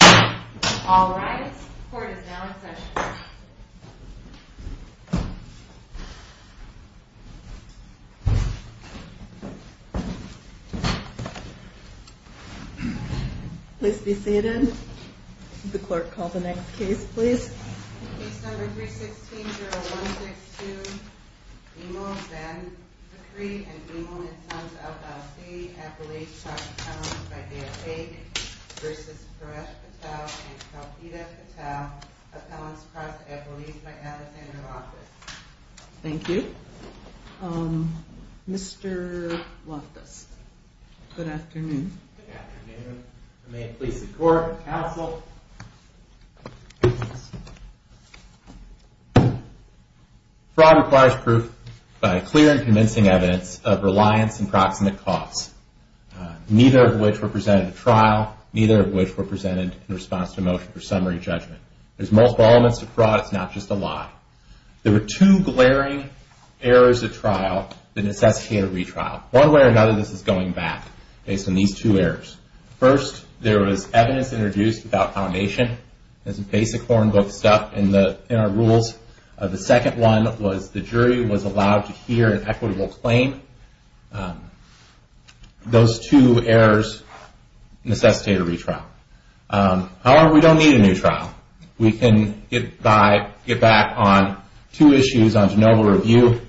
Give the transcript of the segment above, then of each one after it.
Alright, the court is now in session. Please be seated. The clerk, call the next case, please. Case number 316-0162, Imel Benzakry and Imel Nitzanz Al-Fawzi, appellees cross appellants by Dale Baig v. Puresh Patel and Shalfita Patel, appellants cross appellees by Alexander Loftus. Thank you. Mr. Loftus, good afternoon. Good afternoon. May it please the court, counsel. Fraud requires proof by clear and convincing evidence of reliance and proximate cause, neither of which were presented at trial, neither of which were presented in response to a motion for summary judgment. There's multiple elements to fraud, it's not just a lie. There were two glaring errors at trial that necessitated a retrial. One way or another, this is going back based on these two errors. First, there was evidence introduced without foundation, as in basic foreign book stuff in our rules. The second one was the jury was allowed to hear an equitable claim. Those two errors necessitated a retrial. However, we don't need a new trial. We can get back on two issues on de novo review.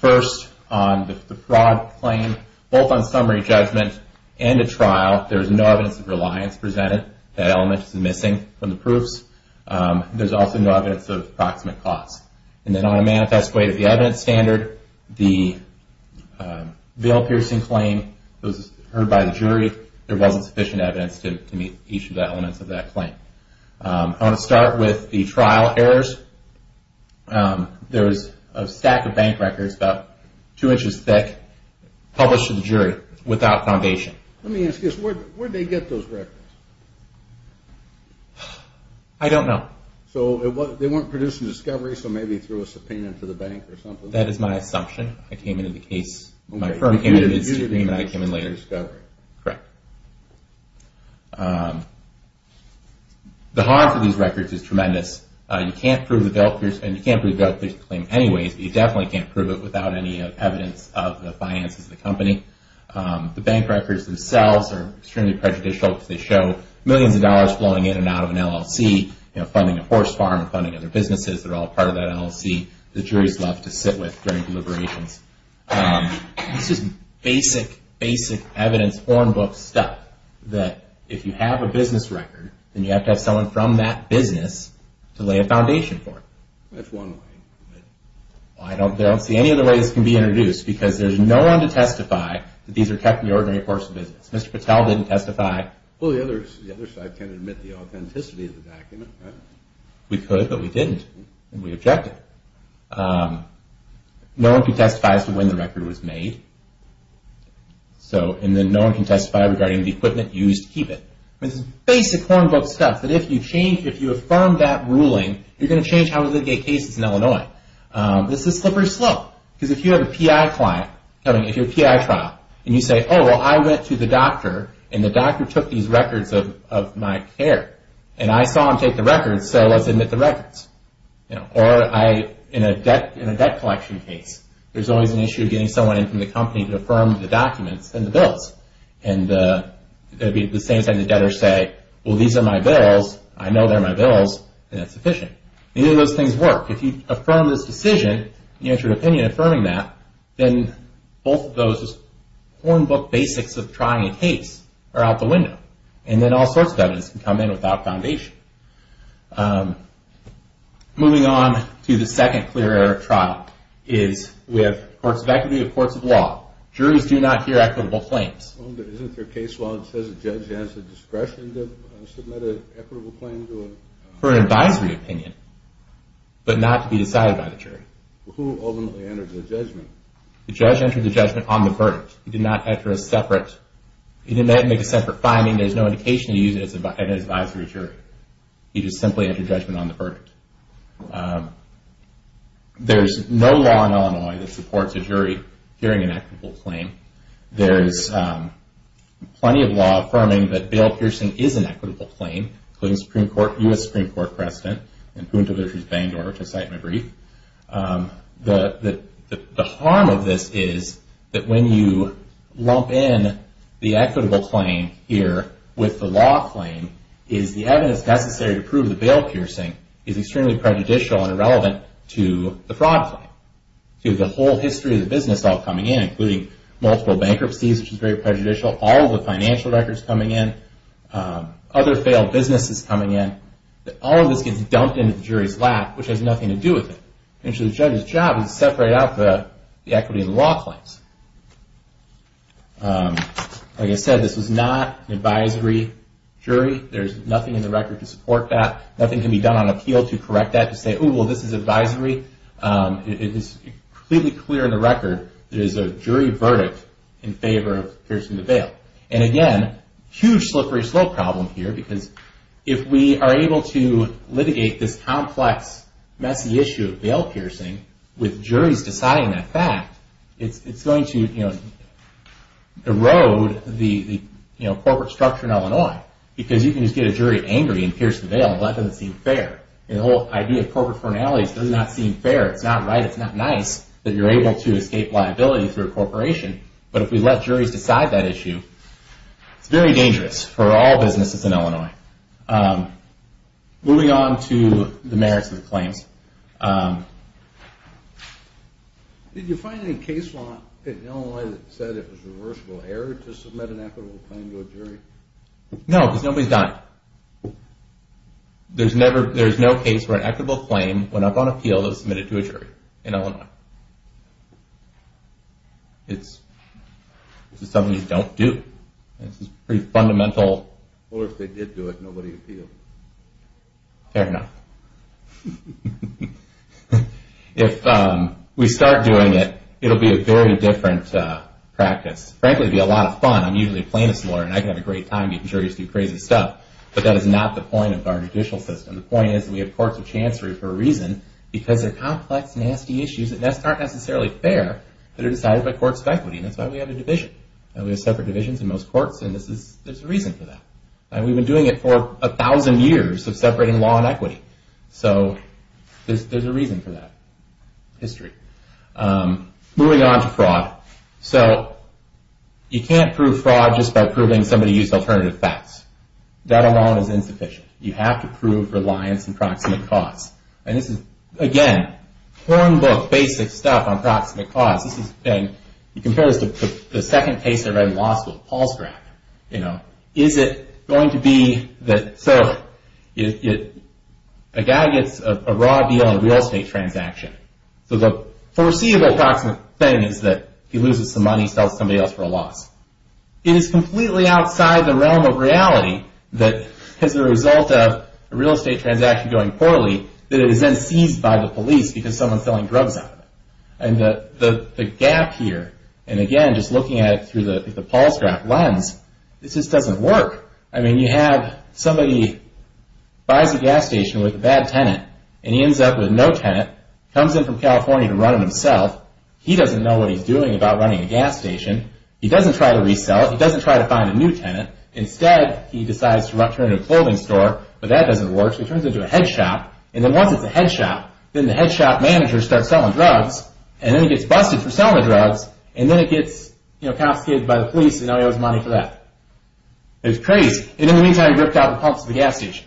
First, on the fraud claim, both on summary judgment and at trial, there's no evidence of reliance presented. That element is missing from the proofs. There's also no evidence of proximate cause. And then on a manifest way to the evidence standard, the veil-piercing claim was heard by the jury. There wasn't sufficient evidence to meet each of the elements of that claim. I want to start with the trial errors. There was a stack of bank records about two inches thick published to the jury without foundation. Let me ask you this. Where did they get those records? I don't know. So they weren't produced in discovery, so maybe through a subpoena to the bank or something? That is my assumption. I came into the case, my firm came into the case, and I came in later. Correct. The hard for these records is tremendous. You can't prove the veil-piercing claim anyways, but you definitely can't prove it without any evidence of the finances of the company. The bank records themselves are extremely prejudicial because they show millions of dollars flowing in and out of an LLC, funding a horse farm and funding other businesses. They're all part of that LLC. The juries love to sit with during deliberations. This is basic, basic evidence, hornbook stuff, that if you have a business record, then you have to have someone from that business to lay a foundation for it. That's one way. I don't see any other way this can be introduced because there's no one to testify that these are kept in the ordinary course of business. Mr. Patel didn't testify. Well, the other side can't admit the authenticity of the document, right? We could, but we didn't, and we objected. No one can testify as to when the record was made, and then no one can testify regarding the equipment used to keep it. This is basic hornbook stuff that if you affirm that ruling, you're going to change how we litigate cases in Illinois. This is slippery slope because if you have a PI client coming, if you're a PI trial, and you say, oh, well, I went to the doctor, and the doctor took these records of my care, and I saw him take the records, so let's admit the records. Or in a debt collection case, there's always an issue of getting someone in from the company to affirm the documents and the bills. It would be at the same time the debtors say, well, these are my bills, I know they're my bills, and it's sufficient. Neither of those things work. If you affirm this decision, you have your opinion affirming that, then both of those hornbook basics of trying a case are out the window, and then all sorts of evidence can come in without foundation. Moving on to the second clear error trial is with courts of equity or courts of law. Juries do not hear equitable claims. Isn't there a case law that says a judge has the discretion to submit an equitable claim to a… for an advisory opinion, but not to be decided by the jury? Who ultimately entered the judgment? The judge entered the judgment on the verdict. He did not enter a separate…he didn't make a separate finding. There's no indication he used it as an advisory jury. He just simply entered judgment on the verdict. There's no law in Illinois that supports a jury hearing an equitable claim. There's plenty of law affirming that bail piercing is an equitable claim, including Supreme Court, U.S. Supreme Court precedent, and Punto v. Bangor, which I cite in my brief. The harm of this is that when you lump in the equitable claim here with the law claim, is the evidence necessary to prove the bail piercing is extremely prejudicial and irrelevant to the fraud claim. See, the whole history of the business all coming in, including multiple bankruptcies, which is very prejudicial, all the financial records coming in, other failed businesses coming in, all of this gets dumped into the jury's lap, which has nothing to do with it. The judge's job is to separate out the equity in the law claims. Like I said, this was not an advisory jury. There's nothing in the record to support that. Nothing can be done on appeal to correct that, to say, oh, well, this is advisory. It is completely clear in the record there is a jury verdict in favor of piercing the bail. And again, huge slippery slope problem here, because if we are able to litigate this complex, messy issue of bail piercing with juries deciding that fact, it's going to erode the corporate structure in Illinois, because you can just get a jury angry and pierce the bail, and that doesn't seem fair. The whole idea of corporate fornalities does not seem fair. It's not right. It's not nice that you're able to escape liability through a corporation. But if we let juries decide that issue, it's very dangerous for all businesses in Illinois. Moving on to the merits of the claims. Did you find any case law in Illinois that said it was a reversible error to submit an equitable claim to a jury? No, because nobody's done it. There's no case where an equitable claim, when up on appeal, is submitted to a jury in Illinois. This is something you don't do. This is pretty fundamental. Or if they did do it, nobody appealed. Fair enough. If we start doing it, it will be a very different practice. Frankly, it will be a lot of fun. I'm usually a plaintiff's lawyer, and I can have a great time making juries do crazy stuff, but that is not the point of our judicial system. The point is that we have courts of chancery for a reason, because there are complex, nasty issues that aren't necessarily fair that are decided by courts of equity, and that's why we have a division. We have separate divisions in most courts, and there's a reason for that. We've been doing it for a thousand years of separating law and equity, so there's a reason for that history. Moving on to fraud. You can't prove fraud just by proving somebody used alternative facts. That alone is insufficient. You have to prove reliance on proximate cause. This is, again, corn book, basic stuff on proximate cause. You compare this to the second case I read in law school, Paul Stratton. A guy gets a raw deal on a real estate transaction. The foreseeable proximate thing is that he loses some money, and he sells somebody else for a loss. It is completely outside the realm of reality that, as a result of a real estate transaction going poorly, that it is then seized by the police because someone's selling drugs out of it. The gap here, and again, just looking at it through the Paul Stratton lens, it just doesn't work. You have somebody buys a gas station with a bad tenant, and he ends up with no tenant. He comes in from California to run it himself. He doesn't know what he's doing about running a gas station. He doesn't try to resell it. He doesn't try to find a new tenant. Instead, he decides to turn it into a clothing store, but that doesn't work, so he turns it into a head shop, and then once it's a head shop, then the head shop manager starts selling drugs, and then he gets busted for selling the drugs, and then he gets confiscated by the police, and now he owes money for that. It's crazy. In the meantime, he ripped out the pumps for the gas station.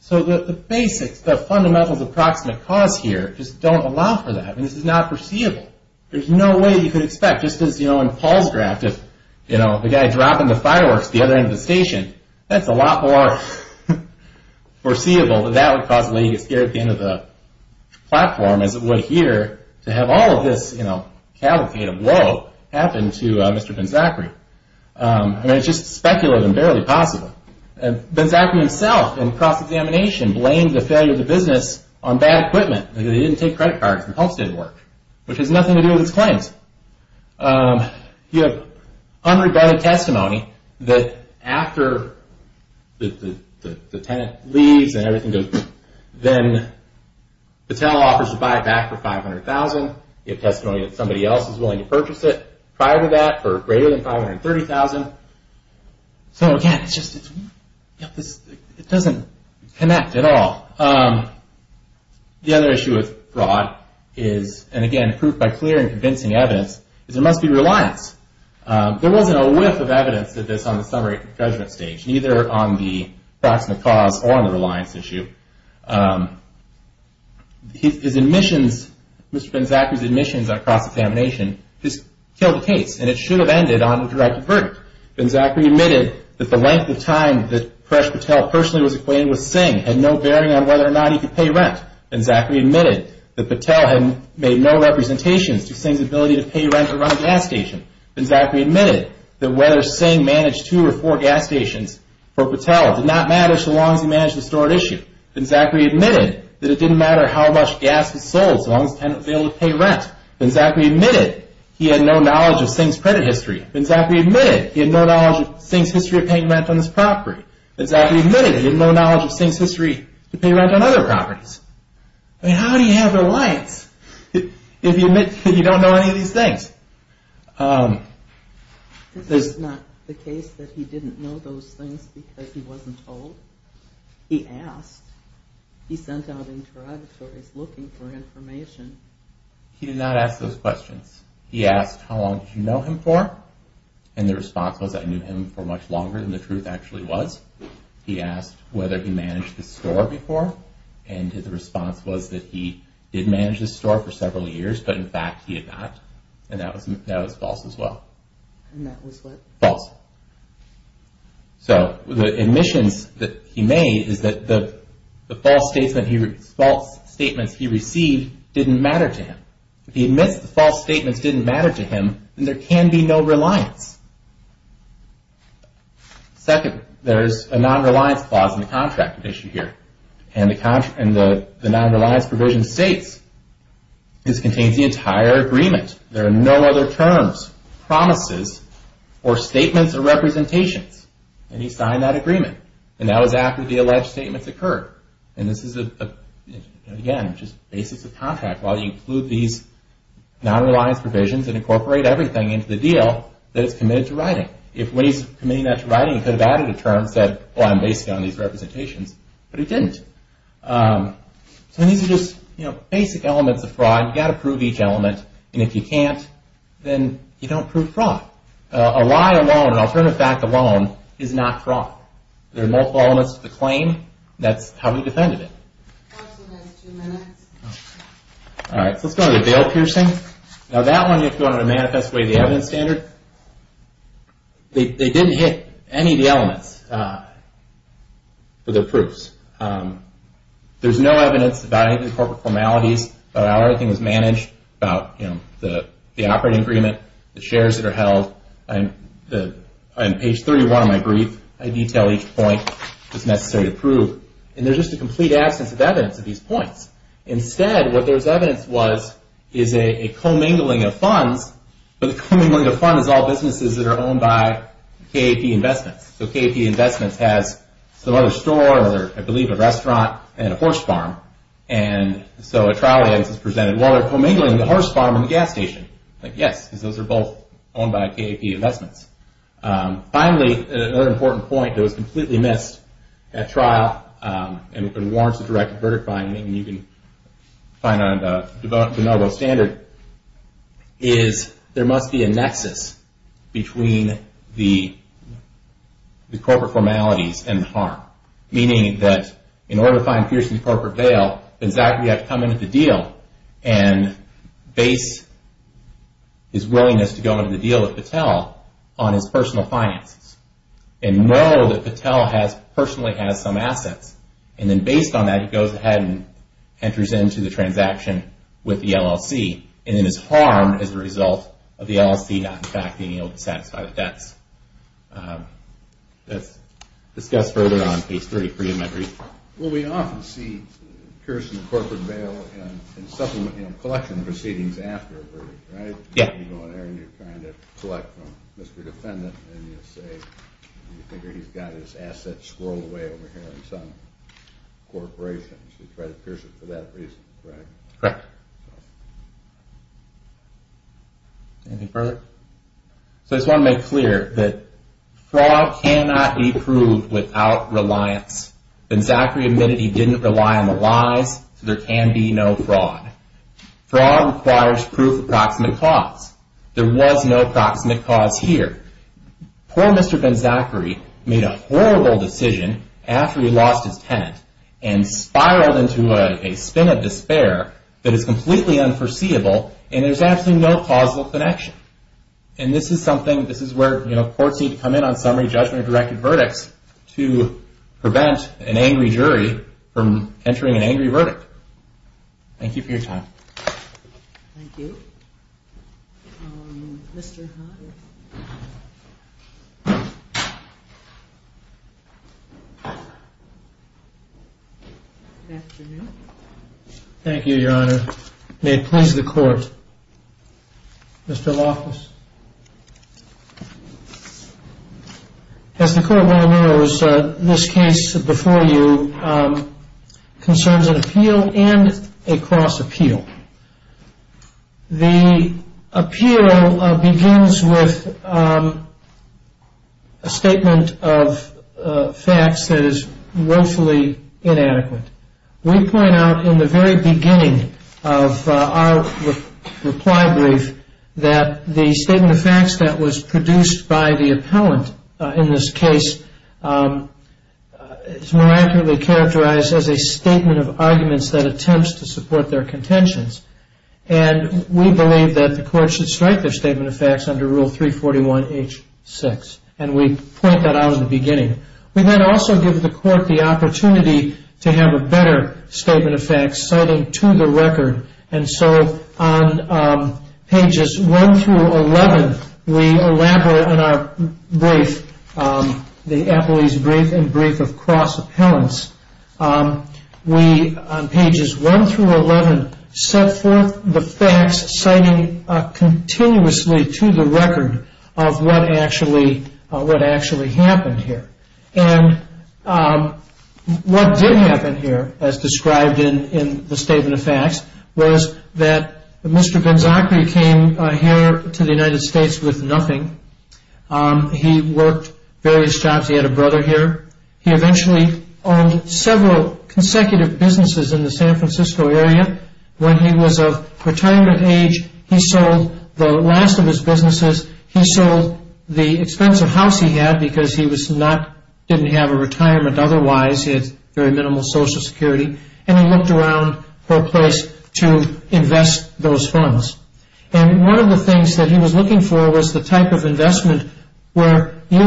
So the basics, the fundamentals of proximate cause here just don't allow for that. This is not foreseeable. There's no way you could expect, just as in Paul's draft, if the guy dropped the fireworks at the other end of the station, that's a lot more foreseeable that that would cause the lady to get scared at the end of the platform, as it would here, to have all of this cavalcade of woe happen to Mr. Ben-Zachary. It's just speculative and barely possible. Ben-Zachary himself, in cross-examination, blamed the failure of the business on bad equipment. They didn't take credit cards, the pumps didn't work, which has nothing to do with his claims. You have unregarded testimony that after the tenant leaves and everything goes, then Patel offers to buy it back for $500,000. You have testimony that somebody else is willing to purchase it prior to that for greater than $530,000. So, again, it doesn't connect at all. The other issue with fraud is, and again, proved by clear and convincing evidence, is there must be reliance. There wasn't a whiff of evidence of this on the summary judgment stage, neither on the proximate cause or on the reliance issue. His admissions, Mr. Ben-Zachary's admissions on cross-examination, just killed the case, and it should have ended on a directed verdict. Ben-Zachary admitted that the length of time that Paresh Patel personally was acquainted with Singh had no bearing on whether or not he could pay rent. Ben-Zachary admitted that Patel had made no representations to Singh's ability to pay rent or run a gas station. Ben-Zachary admitted that whether Singh managed two or four gas stations for Patel did not matter so long as he managed the stored issue. Ben-Zachary admitted that it didn't matter how much gas was sold so long as the tenant failed to pay rent. Ben-Zachary admitted he had no knowledge of Singh's credit history. Ben-Zachary admitted he had no knowledge of Singh's history of paying rent on this property. Ben-Zachary admitted he had no knowledge of Singh's history to pay rent on other properties. I mean, how do you have reliance if you admit you don't know any of these things? This is not the case that he didn't know those things because he wasn't told. He asked. He sent out interrogatories looking for information. He did not ask those questions. He asked, how long did you know him for? And the response was, I knew him for much longer than the truth actually was. He asked whether he managed the store before. And his response was that he did manage the store for several years, but in fact he did not. And that was false as well. And that was what? False. So the admissions that he made is that the false statements he received didn't matter to him. If he admits the false statements didn't matter to him, then there can be no reliance. Second, there's a non-reliance clause in the contract at issue here. And the non-reliance provision states this contains the entire agreement. There are no other terms, promises, or statements or representations. And he signed that agreement. And that was after the alleged statements occurred. And this is, again, just basis of contract. Why do you include these non-reliance provisions and incorporate everything into the deal that it's committed to writing? If when he's committing that to writing, he could have added a term and said, well, I'm basing it on these representations. But he didn't. So these are just basic elements of fraud. You've got to prove each element. And if you can't, then you don't prove fraud. A lie alone, an alternative fact alone, is not fraud. There are multiple elements to the claim. That's how he defended it. Let's go to the veil piercing. Now that one, if you want to manifest away the evidence standard, they didn't hit any of the elements for their proofs. There's no evidence about any of the corporate formalities, about how everything was managed, about the operating agreement, the shares that are held. On page 31 of my brief, I detail each point. It's necessary to prove. And there's just a complete absence of evidence at these points. Instead, what there's evidence was is a commingling of funds. But the commingling of funds is all businesses that are owned by KAP Investments. So KAP Investments has some other store or, I believe, a restaurant and a horse farm. And so a trial evidence is presented, well, they're commingling the horse farm and the gas station. Like, yes, because those are both owned by KAP Investments. Finally, another important point that was completely missed at trial, and it warrants a direct verdict finding, and you can find it on the de novo standard, is there must be a nexus between the corporate formalities and the harm. Meaning that in order to find Pearson's corporate veil, Benzac would have to come into the deal and base his willingness to go into the deal with Patel on his personal finances and know that Patel personally has some assets. And then based on that, he goes ahead and enters into the transaction with the LLC and is harmed as a result of the LLC not, in fact, being able to satisfy the debts. That's discussed further on page 33 of my brief. Well, we often see Pearson corporate veil in collection proceedings after a verdict, right? Yeah. You go in there and you're trying to collect from Mr. Defendant and you say you figure he's got his assets swirled away over here in some corporation. You should try to pierce it for that reason, correct? Correct. Anything further? So I just want to make clear that fraud cannot be proved without reliance. Benzacri admitted he didn't rely on the lies, so there can be no fraud. Fraud requires proof of proximate cause. There was no proximate cause here. Poor Mr. Benzacri made a horrible decision after he lost his tenant and spiraled into a spin of despair that is completely unforeseeable and there's absolutely no causal connection. And this is something, this is where, you know, from entering an angry verdict. Thank you for your time. Thank you. Good afternoon. Thank you, Your Honor. May it please the Court. Mr. Lawfus. As the Court well knows, this case before you concerns an appeal and a cross-appeal. The appeal begins with a statement of facts that is woefully inadequate. We point out in the very beginning of our reply brief that the statement of facts that was produced by the appellant in this case is miraculously characterized as a statement of arguments that attempts to support their contentions. And we believe that the Court should strike their statement of facts under Rule 341H6. And we point that out at the beginning. We then also give the Court the opportunity to have a better statement of facts, citing to the record. And so on pages 1 through 11, we elaborate on our brief, the appellee's brief and brief of cross-appellants. We, on pages 1 through 11, set forth the facts, citing continuously to the record of what actually happened here. And what did happen here, as described in the statement of facts, was that Mr. Benzacchi came here to the United States with nothing. He worked various jobs. He had a brother here. He eventually owned several consecutive businesses in the San Francisco area. When he was of retirement age, he sold the last of his businesses. He sold the expensive house he had because he didn't have a retirement otherwise. He had very minimal Social Security. And he looked around for a place to invest those funds. And one of the things that he was looking for was the type of investment where you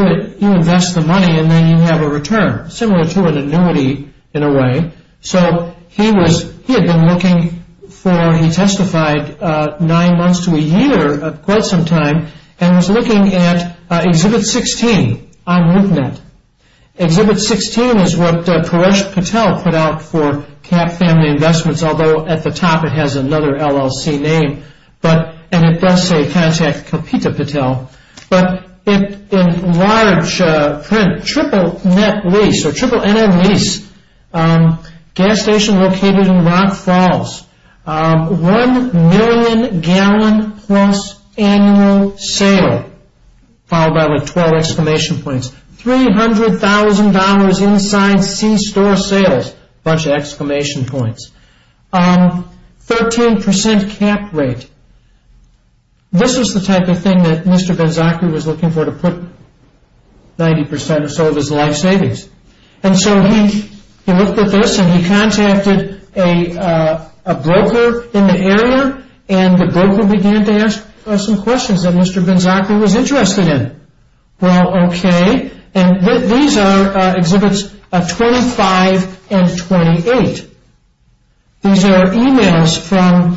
invest the money and then you have a return, similar to an annuity in a way. So he had been looking for, he testified, nine months to a year, quite some time, and was looking at Exhibit 16 on LoopNet. Exhibit 16 is what Paresh Patel put out for Cap Family Investments, although at the top it has another LLC name, and it does say Contact Kapita Patel. But in large print, triple net lease or triple NL lease, gas station located in Rock Falls, one million gallon plus annual sale, followed by like 12 exclamation points, $300,000 inside C-Store sales, a bunch of exclamation points, 13% cap rate. This is the type of thing that Mr. Banzaki was looking for to put 90% or so of his life savings. And so he looked at this and he contacted a broker in the area, and the broker began to ask some questions that Mr. Banzaki was interested in. Well, okay, and these are Exhibits 25 and 28. These are emails from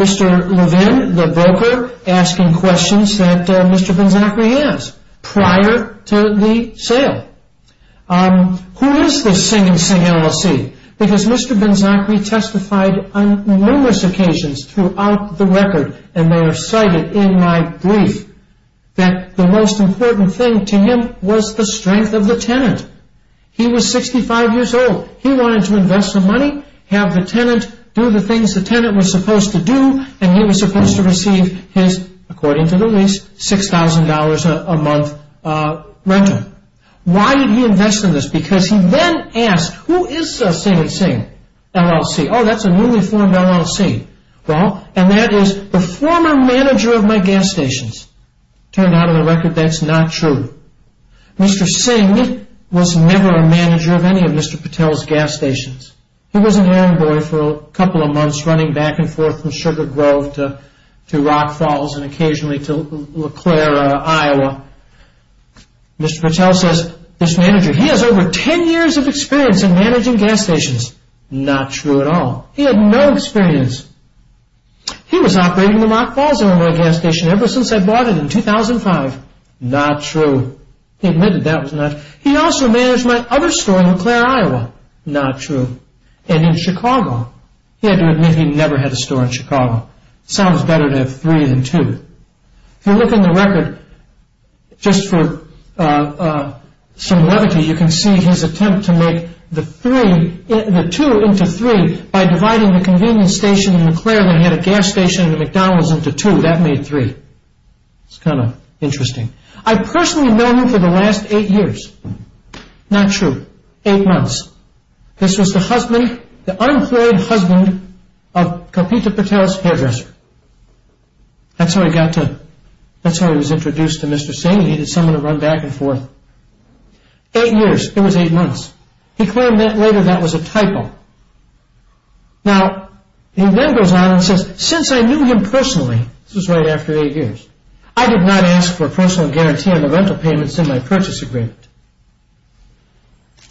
Mr. Levin, the broker, asking questions that Mr. Banzaki has prior to the sale. Who is this Sing and Sing LLC? Because Mr. Banzaki testified on numerous occasions throughout the record, and they are cited in my brief, that the most important thing to him was the strength of the tenant. He was 65 years old. He wanted to invest the money, have the tenant do the things the tenant was supposed to do, and he was supposed to receive his, according to the lease, $6,000 a month rental. Why did he invest in this? Because he then asked, who is Sing and Sing LLC? Oh, that's a newly formed LLC. Well, and that is the former manager of my gas stations. Turned out on the record that's not true. Mr. Sing was never a manager of any of Mr. Patel's gas stations. He was an errand boy for a couple of months running back and forth from Sugar Grove to Rock Falls and occasionally to LeClaire, Iowa. Mr. Patel says, this manager, he has over 10 years of experience in managing gas stations. Not true at all. He had no experience. He was operating the Rock Falls gas station ever since I bought it in 2005. Not true. He admitted that was not true. He also managed my other store in LeClaire, Iowa. Not true. And in Chicago. He had to admit he never had a store in Chicago. Sounds better to have three than two. If you look in the record, just for some levity, you can see his attempt to make the two into three by dividing the convenience station in LeClaire than he had a gas station in the McDonald's into two. That made three. It's kind of interesting. I've personally known him for the last eight years. Not true. Eight months. This was the husband, the unemployed husband of Kapita Patel's hairdresser. That's how he got to, that's how he was introduced to Mr. Singh. He needed someone to run back and forth. Eight years. It was eight months. He claimed that later that was a typo. Now, he then goes on and says, since I knew him personally, this was right after eight years, I did not ask for a personal guarantee on the rental payments in my purchase agreement.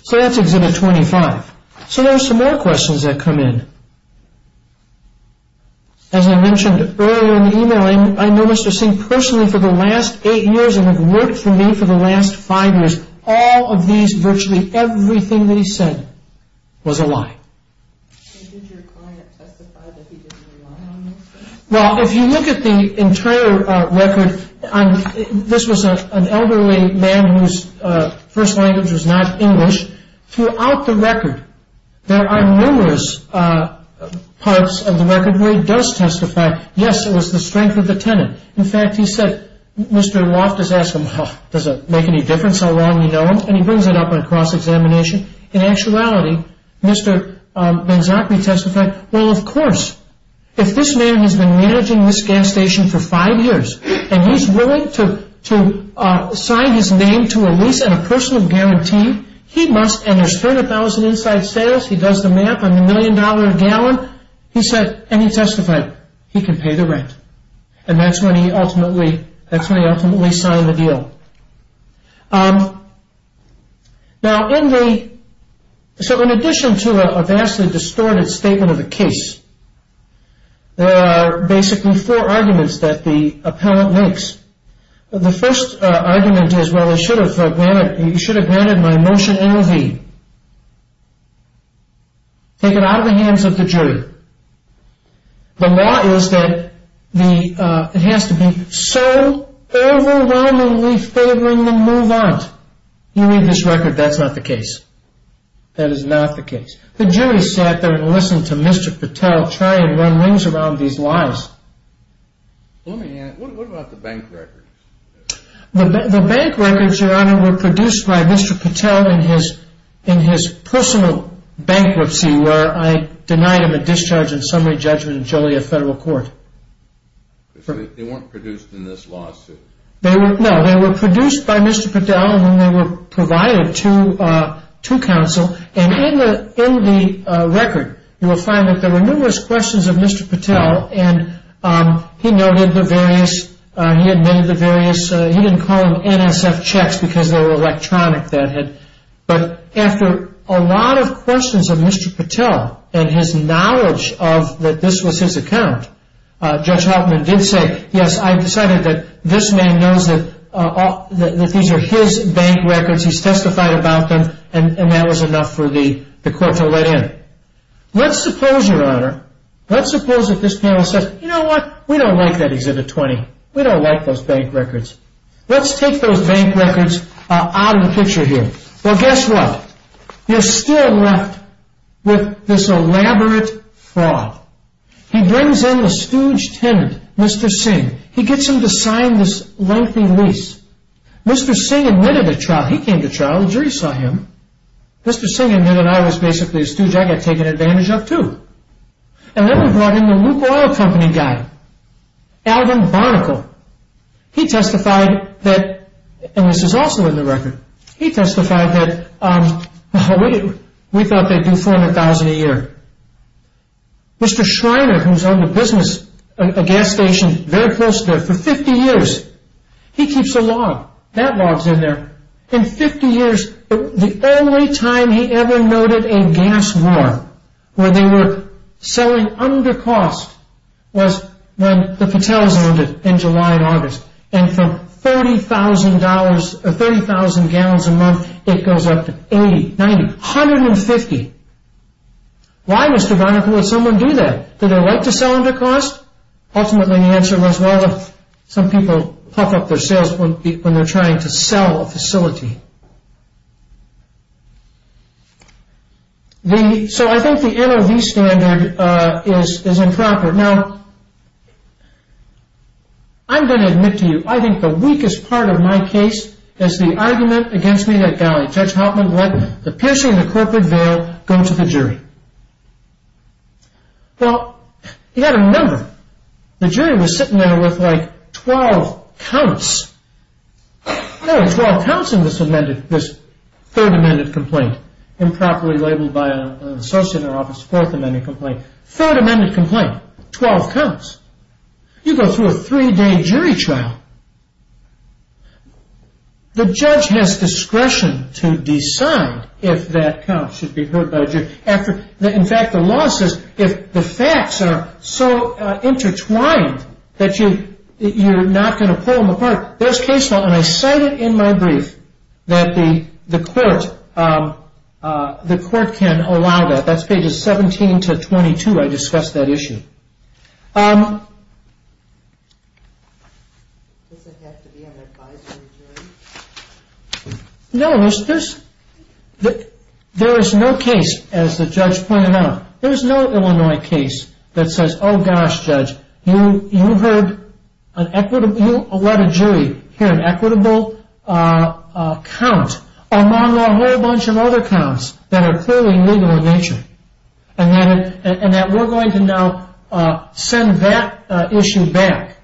So that's Exhibit 25. So there are some more questions that come in. As I mentioned earlier in the email, I know Mr. Singh personally for the last eight years and have worked for me for the last five years. All of these, virtually everything that he said was a lie. Did your client testify that he didn't rely on Mr. Singh? Well, if you look at the internal record, this was an elderly man whose first language was not English. Throughout the record, there are numerous parts of the record where he does testify, yes, it was the strength of the tenant. In fact, he said, Mr. Loftus asked him, does it make any difference how long you know him? And he brings it up on cross-examination. In actuality, Mr. Ben-Zachary testified, well, of course. If this man has been managing this gas station for five years and he's willing to sign his name to a lease and a personal guarantee, he must, and there's $30,000 inside sales, he does the math on the million-dollar gallon, he said, and he testified, he can pay the rent. And that's when he ultimately signed the deal. So in addition to a vastly distorted statement of the case, there are basically four arguments that the appellant makes. The first argument is, well, you should have granted my motion A of E. Take it out of the hands of the jury. The law is that it has to be so overwhelmingly favoring the move out. You read this record, that's not the case. That is not the case. The jury sat there and listened to Mr. Patel try and run rings around these lies. Let me add, what about the bank records? The bank records, Your Honor, were produced by Mr. Patel in his personal bankruptcy where I denied him a discharge and summary judgment in Joliet Federal Court. They weren't produced in this lawsuit? No, they were produced by Mr. Patel and then they were provided to counsel. And in the record, you will find that there were numerous questions of Mr. Patel, and he noted the various, he admitted the various, he didn't call them NSF checks because they were electronic. But after a lot of questions of Mr. Patel and his knowledge that this was his account, Judge Hoffman did say, yes, I decided that this man knows that these are his bank records, he's testified about them, and that was enough for the court to let in. Let's suppose, Your Honor, let's suppose that this panel says, you know what, we don't like that exhibit 20. We don't like those bank records. Let's take those bank records out of the picture here. Well, guess what? You're still left with this elaborate fraud. He brings in the stooge tenant, Mr. Singh. He gets him to sign this lengthy lease. Mr. Singh admitted a trial. He came to trial. The jury saw him. Mr. Singh admitted I was basically a stooge I got taken advantage of, too. And then we brought in the Luke Oil Company guy, Alvin Barnacle. He testified that, and this is also in the record, he testified that we thought they'd do $400,000 a year. Mr. Schreiner, who's owned a business, a gas station very close to there for 50 years, he keeps a log. That log's in there. In 50 years, the only time he ever noted a gas war where they were selling under cost was when the patels ended in July and August. And for $30,000 or 30,000 gallons a month, it goes up to 80, 90, 150. Why, Mr. Barnacle, would someone do that? Do they like to sell under cost? Ultimately, the answer was, well, some people puff up their sails when they're trying to sell a facility. So I think the NOV standard is improper. Now, I'm going to admit to you, I think the weakest part of my case is the argument against me that guy, Judge Hauptman, let the piercing of the corporate veil go to the jury. Well, he had a number. The jury was sitting there with, like, 12 counts. There were 12 counts in this third amended complaint, improperly labeled by an associate in our office, fourth amended complaint. Third amended complaint, 12 counts. You go through a three-day jury trial. The judge has discretion to decide if that count should be heard by a jury. In fact, the law says if the facts are so intertwined that you're not going to pull them apart. There's case law, and I cite it in my brief, that the court can allow that. That's pages 17 to 22. I discussed that issue. Does it have to be an advisory jury? No. There is no case, as the judge pointed out. There's no Illinois case that says, oh, gosh, judge, you let a jury hear an equitable count, among a whole bunch of other counts that are clearly legal in nature, and that we're going to now send that issue back.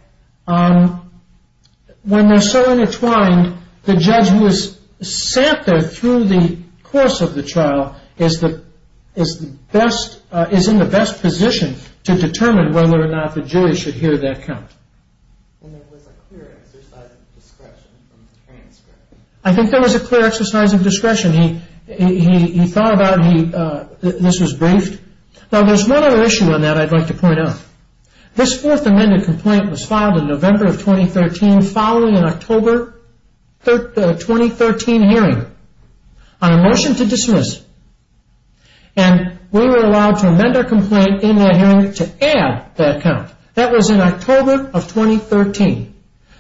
When they're so intertwined, the judge who has sat there through the course of the trial is in the best position to determine whether or not the jury should hear that count. There was a clear exercise of discretion from the transcript. I think there was a clear exercise of discretion. He thought about it. This was briefed. Now, there's one other issue on that I'd like to point out. This fourth amended complaint was filed in November of 2013, following an October 2013 hearing on a motion to dismiss. And we were allowed to amend our complaint in that hearing to add that count. That was in October of 2013.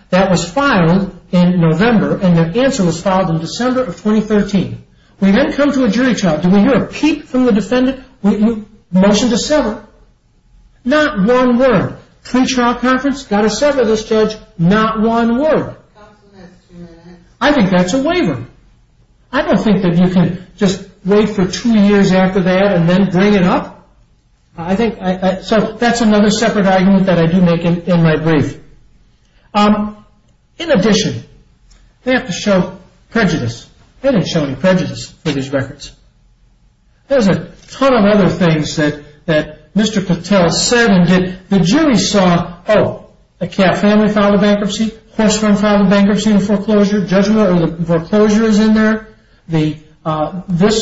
That was filed in November, and the answer was filed in December of 2013. We then come to a jury trial. Do we hear a peep from the defendant? Motion to sever. Not one word. Three trial conference, got to sever this judge, not one word. I think that's a waiver. I don't think that you can just wait for two years after that and then bring it up. So that's another separate argument that I do make in my brief. In addition, they have to show prejudice. They didn't show any prejudice for these records. There's a ton of other things that Mr. Patel said and did. The jury saw, oh, the Kaff family filed a bankruptcy. Horsfarm filed a bankruptcy in foreclosure. Judgment over foreclosure is in there. This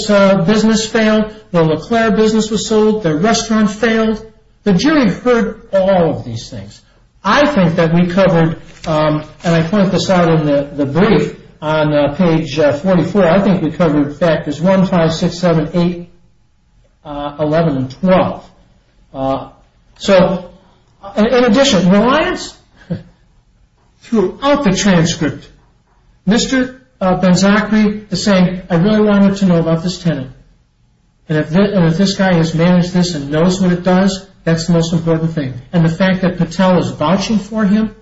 business failed. The LeClaire business was sold. Their restaurant failed. The jury heard all of these things. I think that we covered, and I point this out in the brief on page 44, I think we covered factors 1, 5, 6, 7, 8, 11, and 12. So, in addition, reliance throughout the transcript. Mr. Benzachry is saying, I really want him to know about this tenant. And if this guy has managed this and knows what it does, that's the most important thing. And the fact that Patel is vouching for him.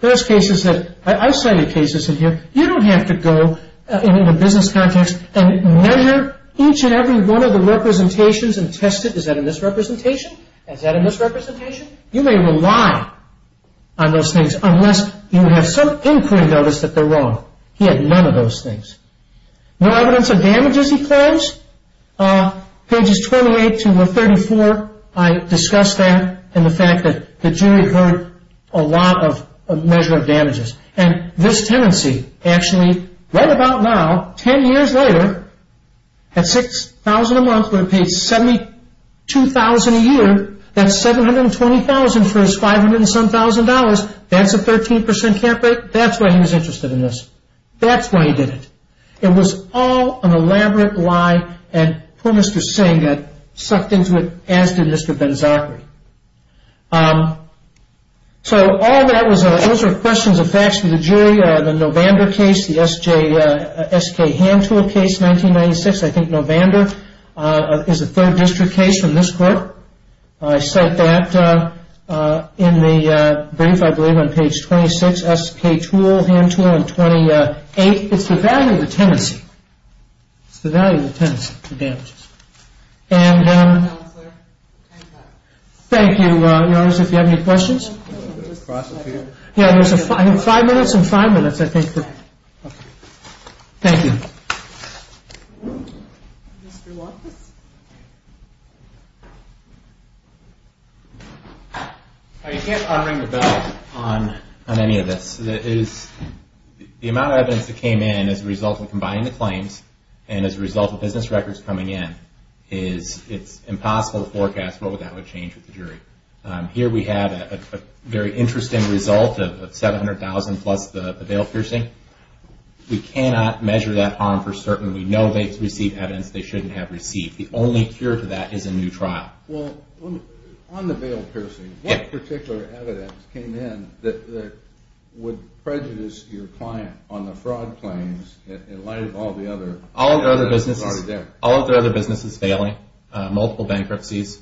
There's isolated cases in here. You don't have to go in a business context and measure each and every one of the representations and test it. Is that a misrepresentation? Is that a misrepresentation? You may rely on those things unless you have some input and notice that they're wrong. He had none of those things. No evidence of damages, he claims. Pages 28 to 34, I discussed that and the fact that the jury heard a lot of measure of damages. And this tenancy, actually, right about now, 10 years later, at $6,000 a month when it paid $72,000 a year, that's $720,000 for his $500-and-some-thousand dollars. That's a 13% cap rate. That's why he was interested in this. That's why he did it. It was all an elaborate lie, and poor Mr. Singh got sucked into it, as did Mr. Ben-Zachary. So all that was an answer to questions of facts from the jury. The Novander case, the S.K. Handtool case, 1996. I think Novander is a third district case from this court. I said that in the brief, I believe, on page 26. S.K. Toole, Handtool in 28. It's the value of the tenancy. It's the value of the tenancy, the damages. And thank you, Your Honors, if you have any questions. Yeah, there's five minutes and five minutes, I think. Thank you. You can't unring the bell on any of this. The amount of evidence that came in as a result of combining the claims and as a result of business records coming in, it's impossible to forecast what that would change with the jury. Here we have a very interesting result of $700,000 plus the bail piercing. We cannot measure that harm for certain. We know they've received evidence they shouldn't have received. The only cure to that is a new trial. On the bail piercing, what particular evidence came in that would prejudice your client on the fraud claims in light of all the other? All of their other businesses failing, multiple bankruptcies,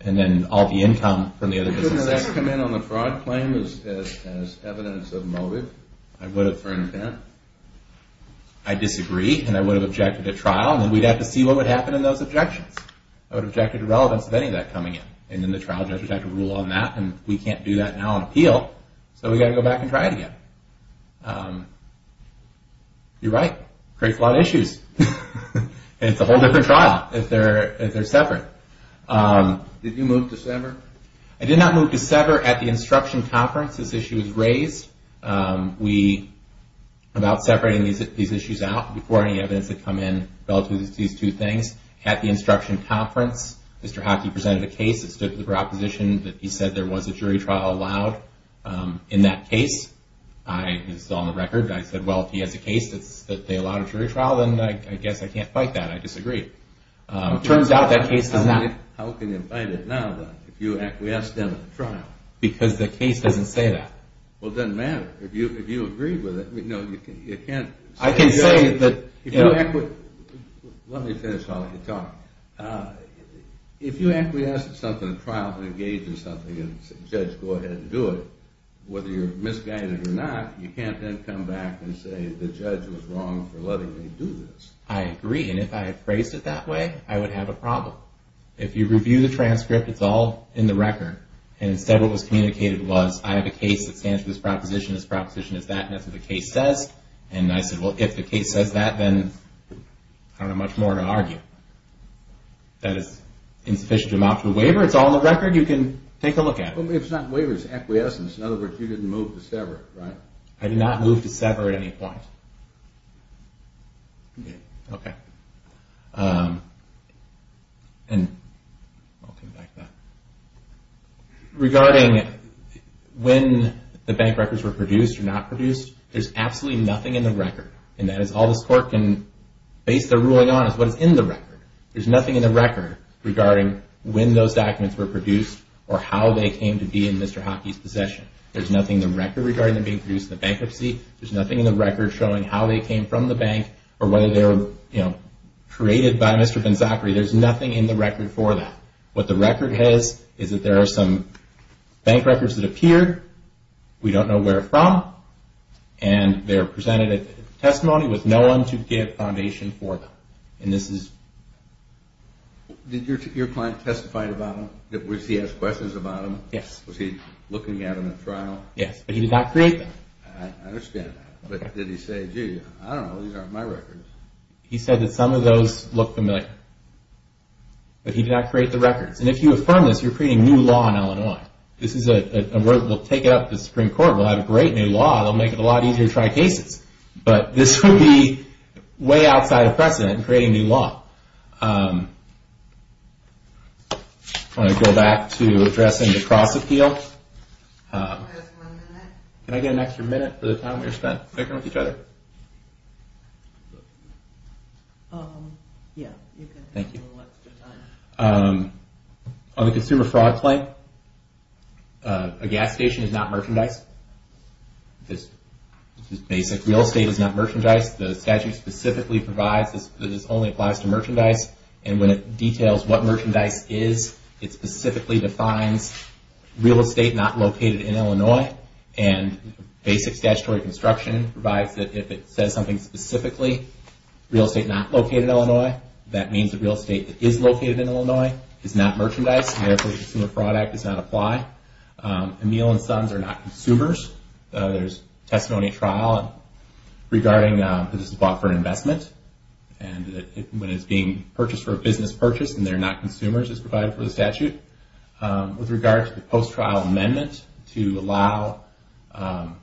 and then all the income from the other businesses. Couldn't that come in on the fraud claim as evidence of motive for an event? I disagree, and I would have objected to trial, and we'd have to see what would happen in those objections. I would have objected to relevance of any of that coming in, and then the trial judge would have to rule on that, and we can't do that now on appeal, so we've got to go back and try it again. You're right. Creates a lot of issues. It's a whole different trial if they're separate. Did you move to sever? I did not move to sever. At the instruction conference, this issue was raised. We, about separating these issues out, before any evidence had come in relative to these two things, at the instruction conference, Mr. Hockey presented a case that stood for the proposition that he said there was a jury trial allowed in that case. This is on the record. I said, well, if he has a case that they allowed a jury trial, then I guess I can't fight that. I disagree. It turns out that case does not. How can you fight it now, then, if you acquiesce them in the trial? Because the case doesn't say that. Well, it doesn't matter. If you agree with it, you can't. I can say that if you acquiesce. Let me finish while you talk. If you acquiesce in something, a trial, and engage in something, and say, judge, go ahead and do it, whether you're misguided or not, you can't then come back and say the judge was wrong for letting me do this. I agree. And if I had phrased it that way, I would have a problem. If you review the transcript, it's all in the record, and instead what was communicated was I have a case that stands for this proposition, this proposition is that, and that's what the case says. And I said, well, if the case says that, then I don't have much more to argue. That is insufficient to amount to a waiver. It's all in the record. You can take a look at it. If it's not a waiver, it's acquiescence. In other words, you didn't move to sever, right? I did not move to sever at any point. Okay. And I'll come back to that. Regarding when the bank records were produced or not produced, there's absolutely nothing in the record, and that is all the court can base their ruling on is what is in the record. There's nothing in the record regarding when those documents were produced or how they came to be in Mr. Hockey's possession. There's nothing in the record regarding them being produced in the bankruptcy. There's nothing in the record showing how they came from the bank or whether they were created by Mr. Ben-Zachary. There's nothing in the record for that. What the record has is that there are some bank records that appear. We don't know where they're from, and they're presented as testimony with no one to give foundation for them. And this is... Did your client testify about them? Did he ask questions about them? Yes. Was he looking at them in trial? Yes, but he did not create them. I understand that, but did he say, gee, I don't know, these aren't my records. He said that some of those look familiar, but he did not create the records. And if you affirm this, you're creating new law in Illinois. This is a...we'll take it up to the Supreme Court. We'll have a great new law. It'll make it a lot easier to try cases. But this would be way outside of precedent in creating new law. I want to go back to addressing the cross-appeal. You have one minute. Can I get an extra minute for the time we spent working with each other? Yeah, you can have a little extra time. On the consumer fraud claim, a gas station is not merchandise. This is basic. Real estate is not merchandise. The statute specifically provides that this only applies to merchandise. And when it details what merchandise is, it specifically defines real estate not located in Illinois. And basic statutory construction provides that if it says something specifically, real estate not located in Illinois, that means the real estate that is located in Illinois is not merchandise. And therefore, the consumer fraud act does not apply. A meal and sons are not consumers. There's testimony trial regarding that this is bought for an investment. And when it's being purchased for a business purchase and they're not consumers, it's provided for the statute. With regard to the post-trial amendment to allow an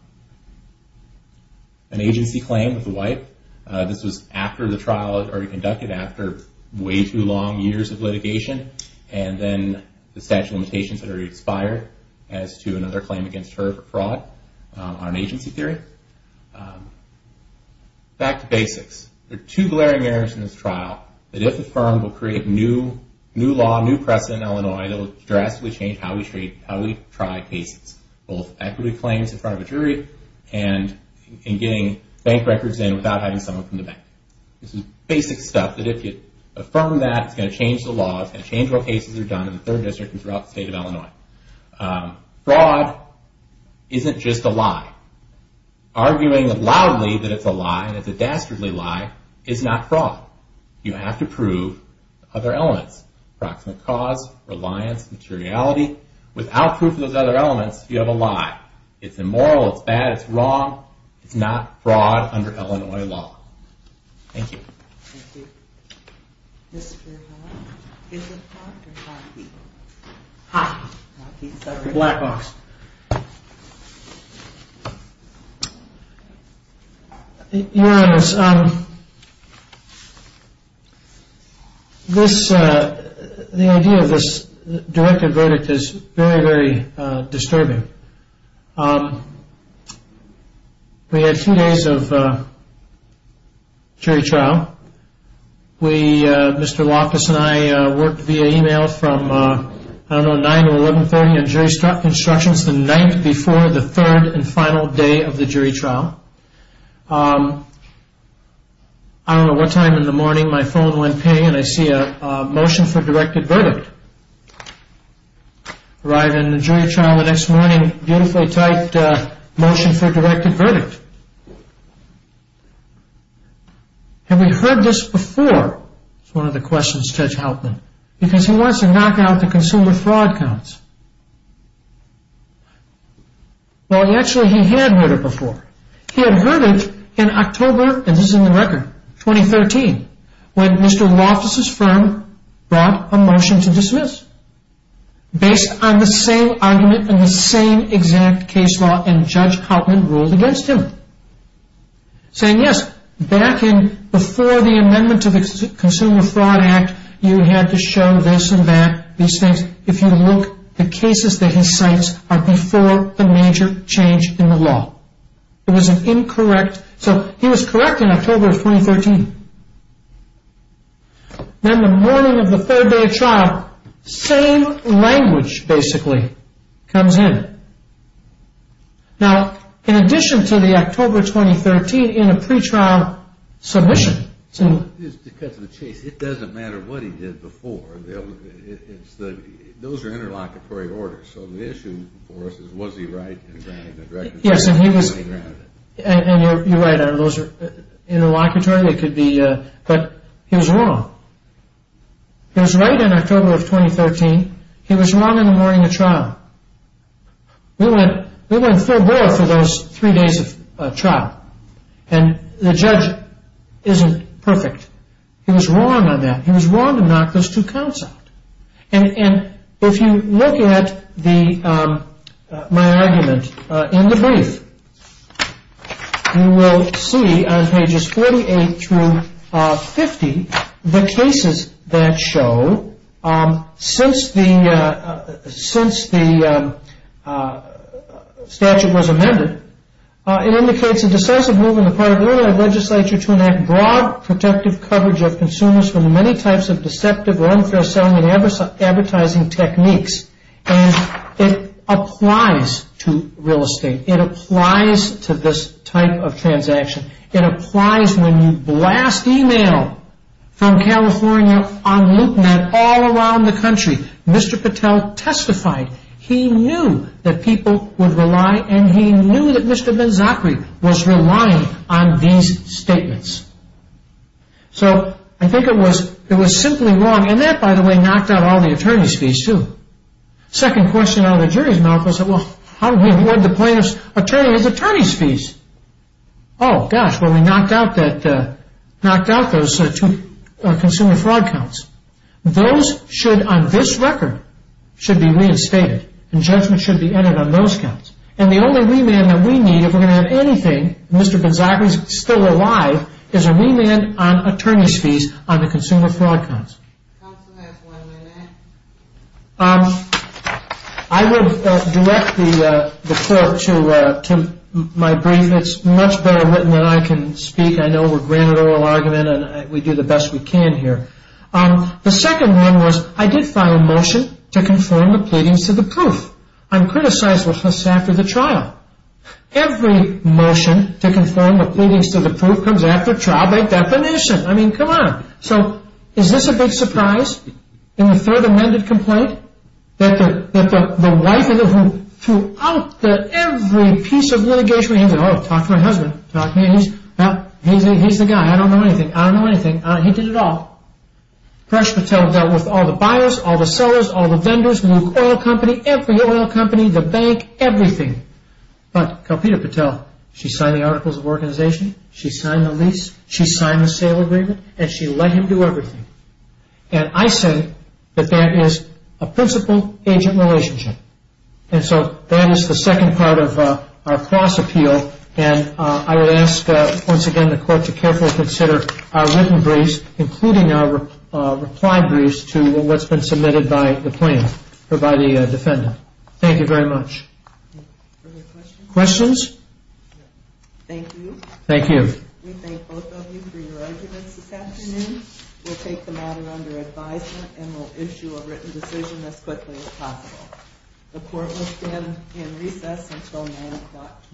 agency claim with a wipe, this was after the trial had already conducted, after way too long years of litigation. And then the statute of limitations had already expired as to another claim against her for fraud on agency theory. Back to basics. There are two glaring areas in this trial that if affirmed will create new law, new precedent in Illinois that will drastically change how we try cases, both equity claims in front of a jury and getting bank records in without having someone from the bank. This is basic stuff that if you affirm that, it's going to change the law, it's going to change what cases are done in the third district and throughout the state of Illinois. Fraud isn't just a lie. Arguing loudly that it's a lie and it's a dastardly lie is not fraud. You have to prove other elements, approximate cause, reliance, materiality. Without proof of those other elements, you have a lie. It's immoral, it's bad, it's wrong. It's not fraud under Illinois law. Thank you. Thank you. Mr. Hawke, is it Hawke or Hawkey? Hawkey. Hawkey, sorry. Black Hawks. Your Honors, this, the idea of this directed verdict is very, very disturbing. Thank you. We had two days of jury trial. We, Mr. Loftus and I, worked via email from, I don't know, 9 to 11.30 in jury constructions, the night before the third and final day of the jury trial. I don't know what time in the morning my phone went ping and I see a motion for directed verdict. Arrived in the jury trial the next morning, beautifully typed motion for directed verdict. Have we heard this before? It's one of the questions, Judge Hauptman, because he wants to knock out the consumer fraud counts. Well, actually, he had heard it before. He had heard it in October, and this is in the record, 2013, when Mr. Loftus' firm brought a motion to dismiss based on the same argument and the same exact case law, and Judge Hauptman ruled against him, saying, yes, back in before the amendment to the Consumer Fraud Act, you had to show this and that, these things. If you look, the cases that he cites are before the major change in the law. It was an incorrect. So he was correct in October, 2013. Then the morning of the third day of trial, same language basically comes in. Now, in addition to the October, 2013, in a pretrial submission. Because of the case, it doesn't matter what he did before. Those are interlocutory orders, so the issue for us is, was he right in granting the directives? Yes, and he was, and you're right, those are interlocutory. It could be, but he was wrong. He was right in October of 2013. He was wrong in the morning of trial. We went full bore for those three days of trial, and the judge isn't perfect. He was wrong on that. He was wrong to knock those two counts out. If you look at my argument in the brief, you will see on pages 48 through 50, the cases that show, since the statute was amended, it indicates a decisive move on the part of the Illinois legislature to enact broad, protective coverage of consumers from many types of deceptive or unfair selling and advertising techniques. And it applies to real estate. It applies to this type of transaction. It applies when you blast email from California on LoopNet all around the country. Mr. Patel testified. He knew that people would rely, and he knew that Mr. Ben-Zachary was relying on these statements. So, I think it was simply wrong. And that, by the way, knocked out all the attorney's fees, too. Second question out of the jury's mouth was, well, how do we avoid the plaintiff's attorney's attorney's fees? Oh, gosh, well, we knocked out those two consumer fraud counts. Those should, on this record, should be reinstated, and judgment should be added on those counts. And the only remand that we need, if we're going to have anything, and Mr. Ben-Zachary is still alive, is a remand on attorney's fees on the consumer fraud counts. Counsel has one minute. I would direct the court to my brief. It's much better written than I can speak. I know we're granted oral argument, and we do the best we can here. The second one was, I did file a motion to conform the pleadings to the proof. I'm criticized for this after the trial. Every motion to conform the pleadings to the proof comes after trial by definition. I mean, come on. So is this a big surprise in the third amended complaint, that the wife of the who threw out every piece of litigation? Oh, talk to my husband. He's the guy. I don't know anything. I don't know anything. He did it all. Presh Patel dealt with all the buyers, all the sellers, all the vendors, every oil company, the bank, everything. But Kalpita Patel, she signed the articles of organization. She signed the lease. She signed the sale agreement, and she let him do everything. And I say that that is a principal-agent relationship. And so that is the second part of our cross-appeal, and I would ask once again the court to carefully consider our written briefs, including our reply briefs to what's been submitted by the defendant. Thank you very much. Further questions? Questions? Thank you. Thank you. We thank both of you for your arguments this afternoon. We'll take the matter under advisement and we'll issue a written decision as quickly as possible. The court will stand in recess until 9 o'clock tomorrow morning. Thank you.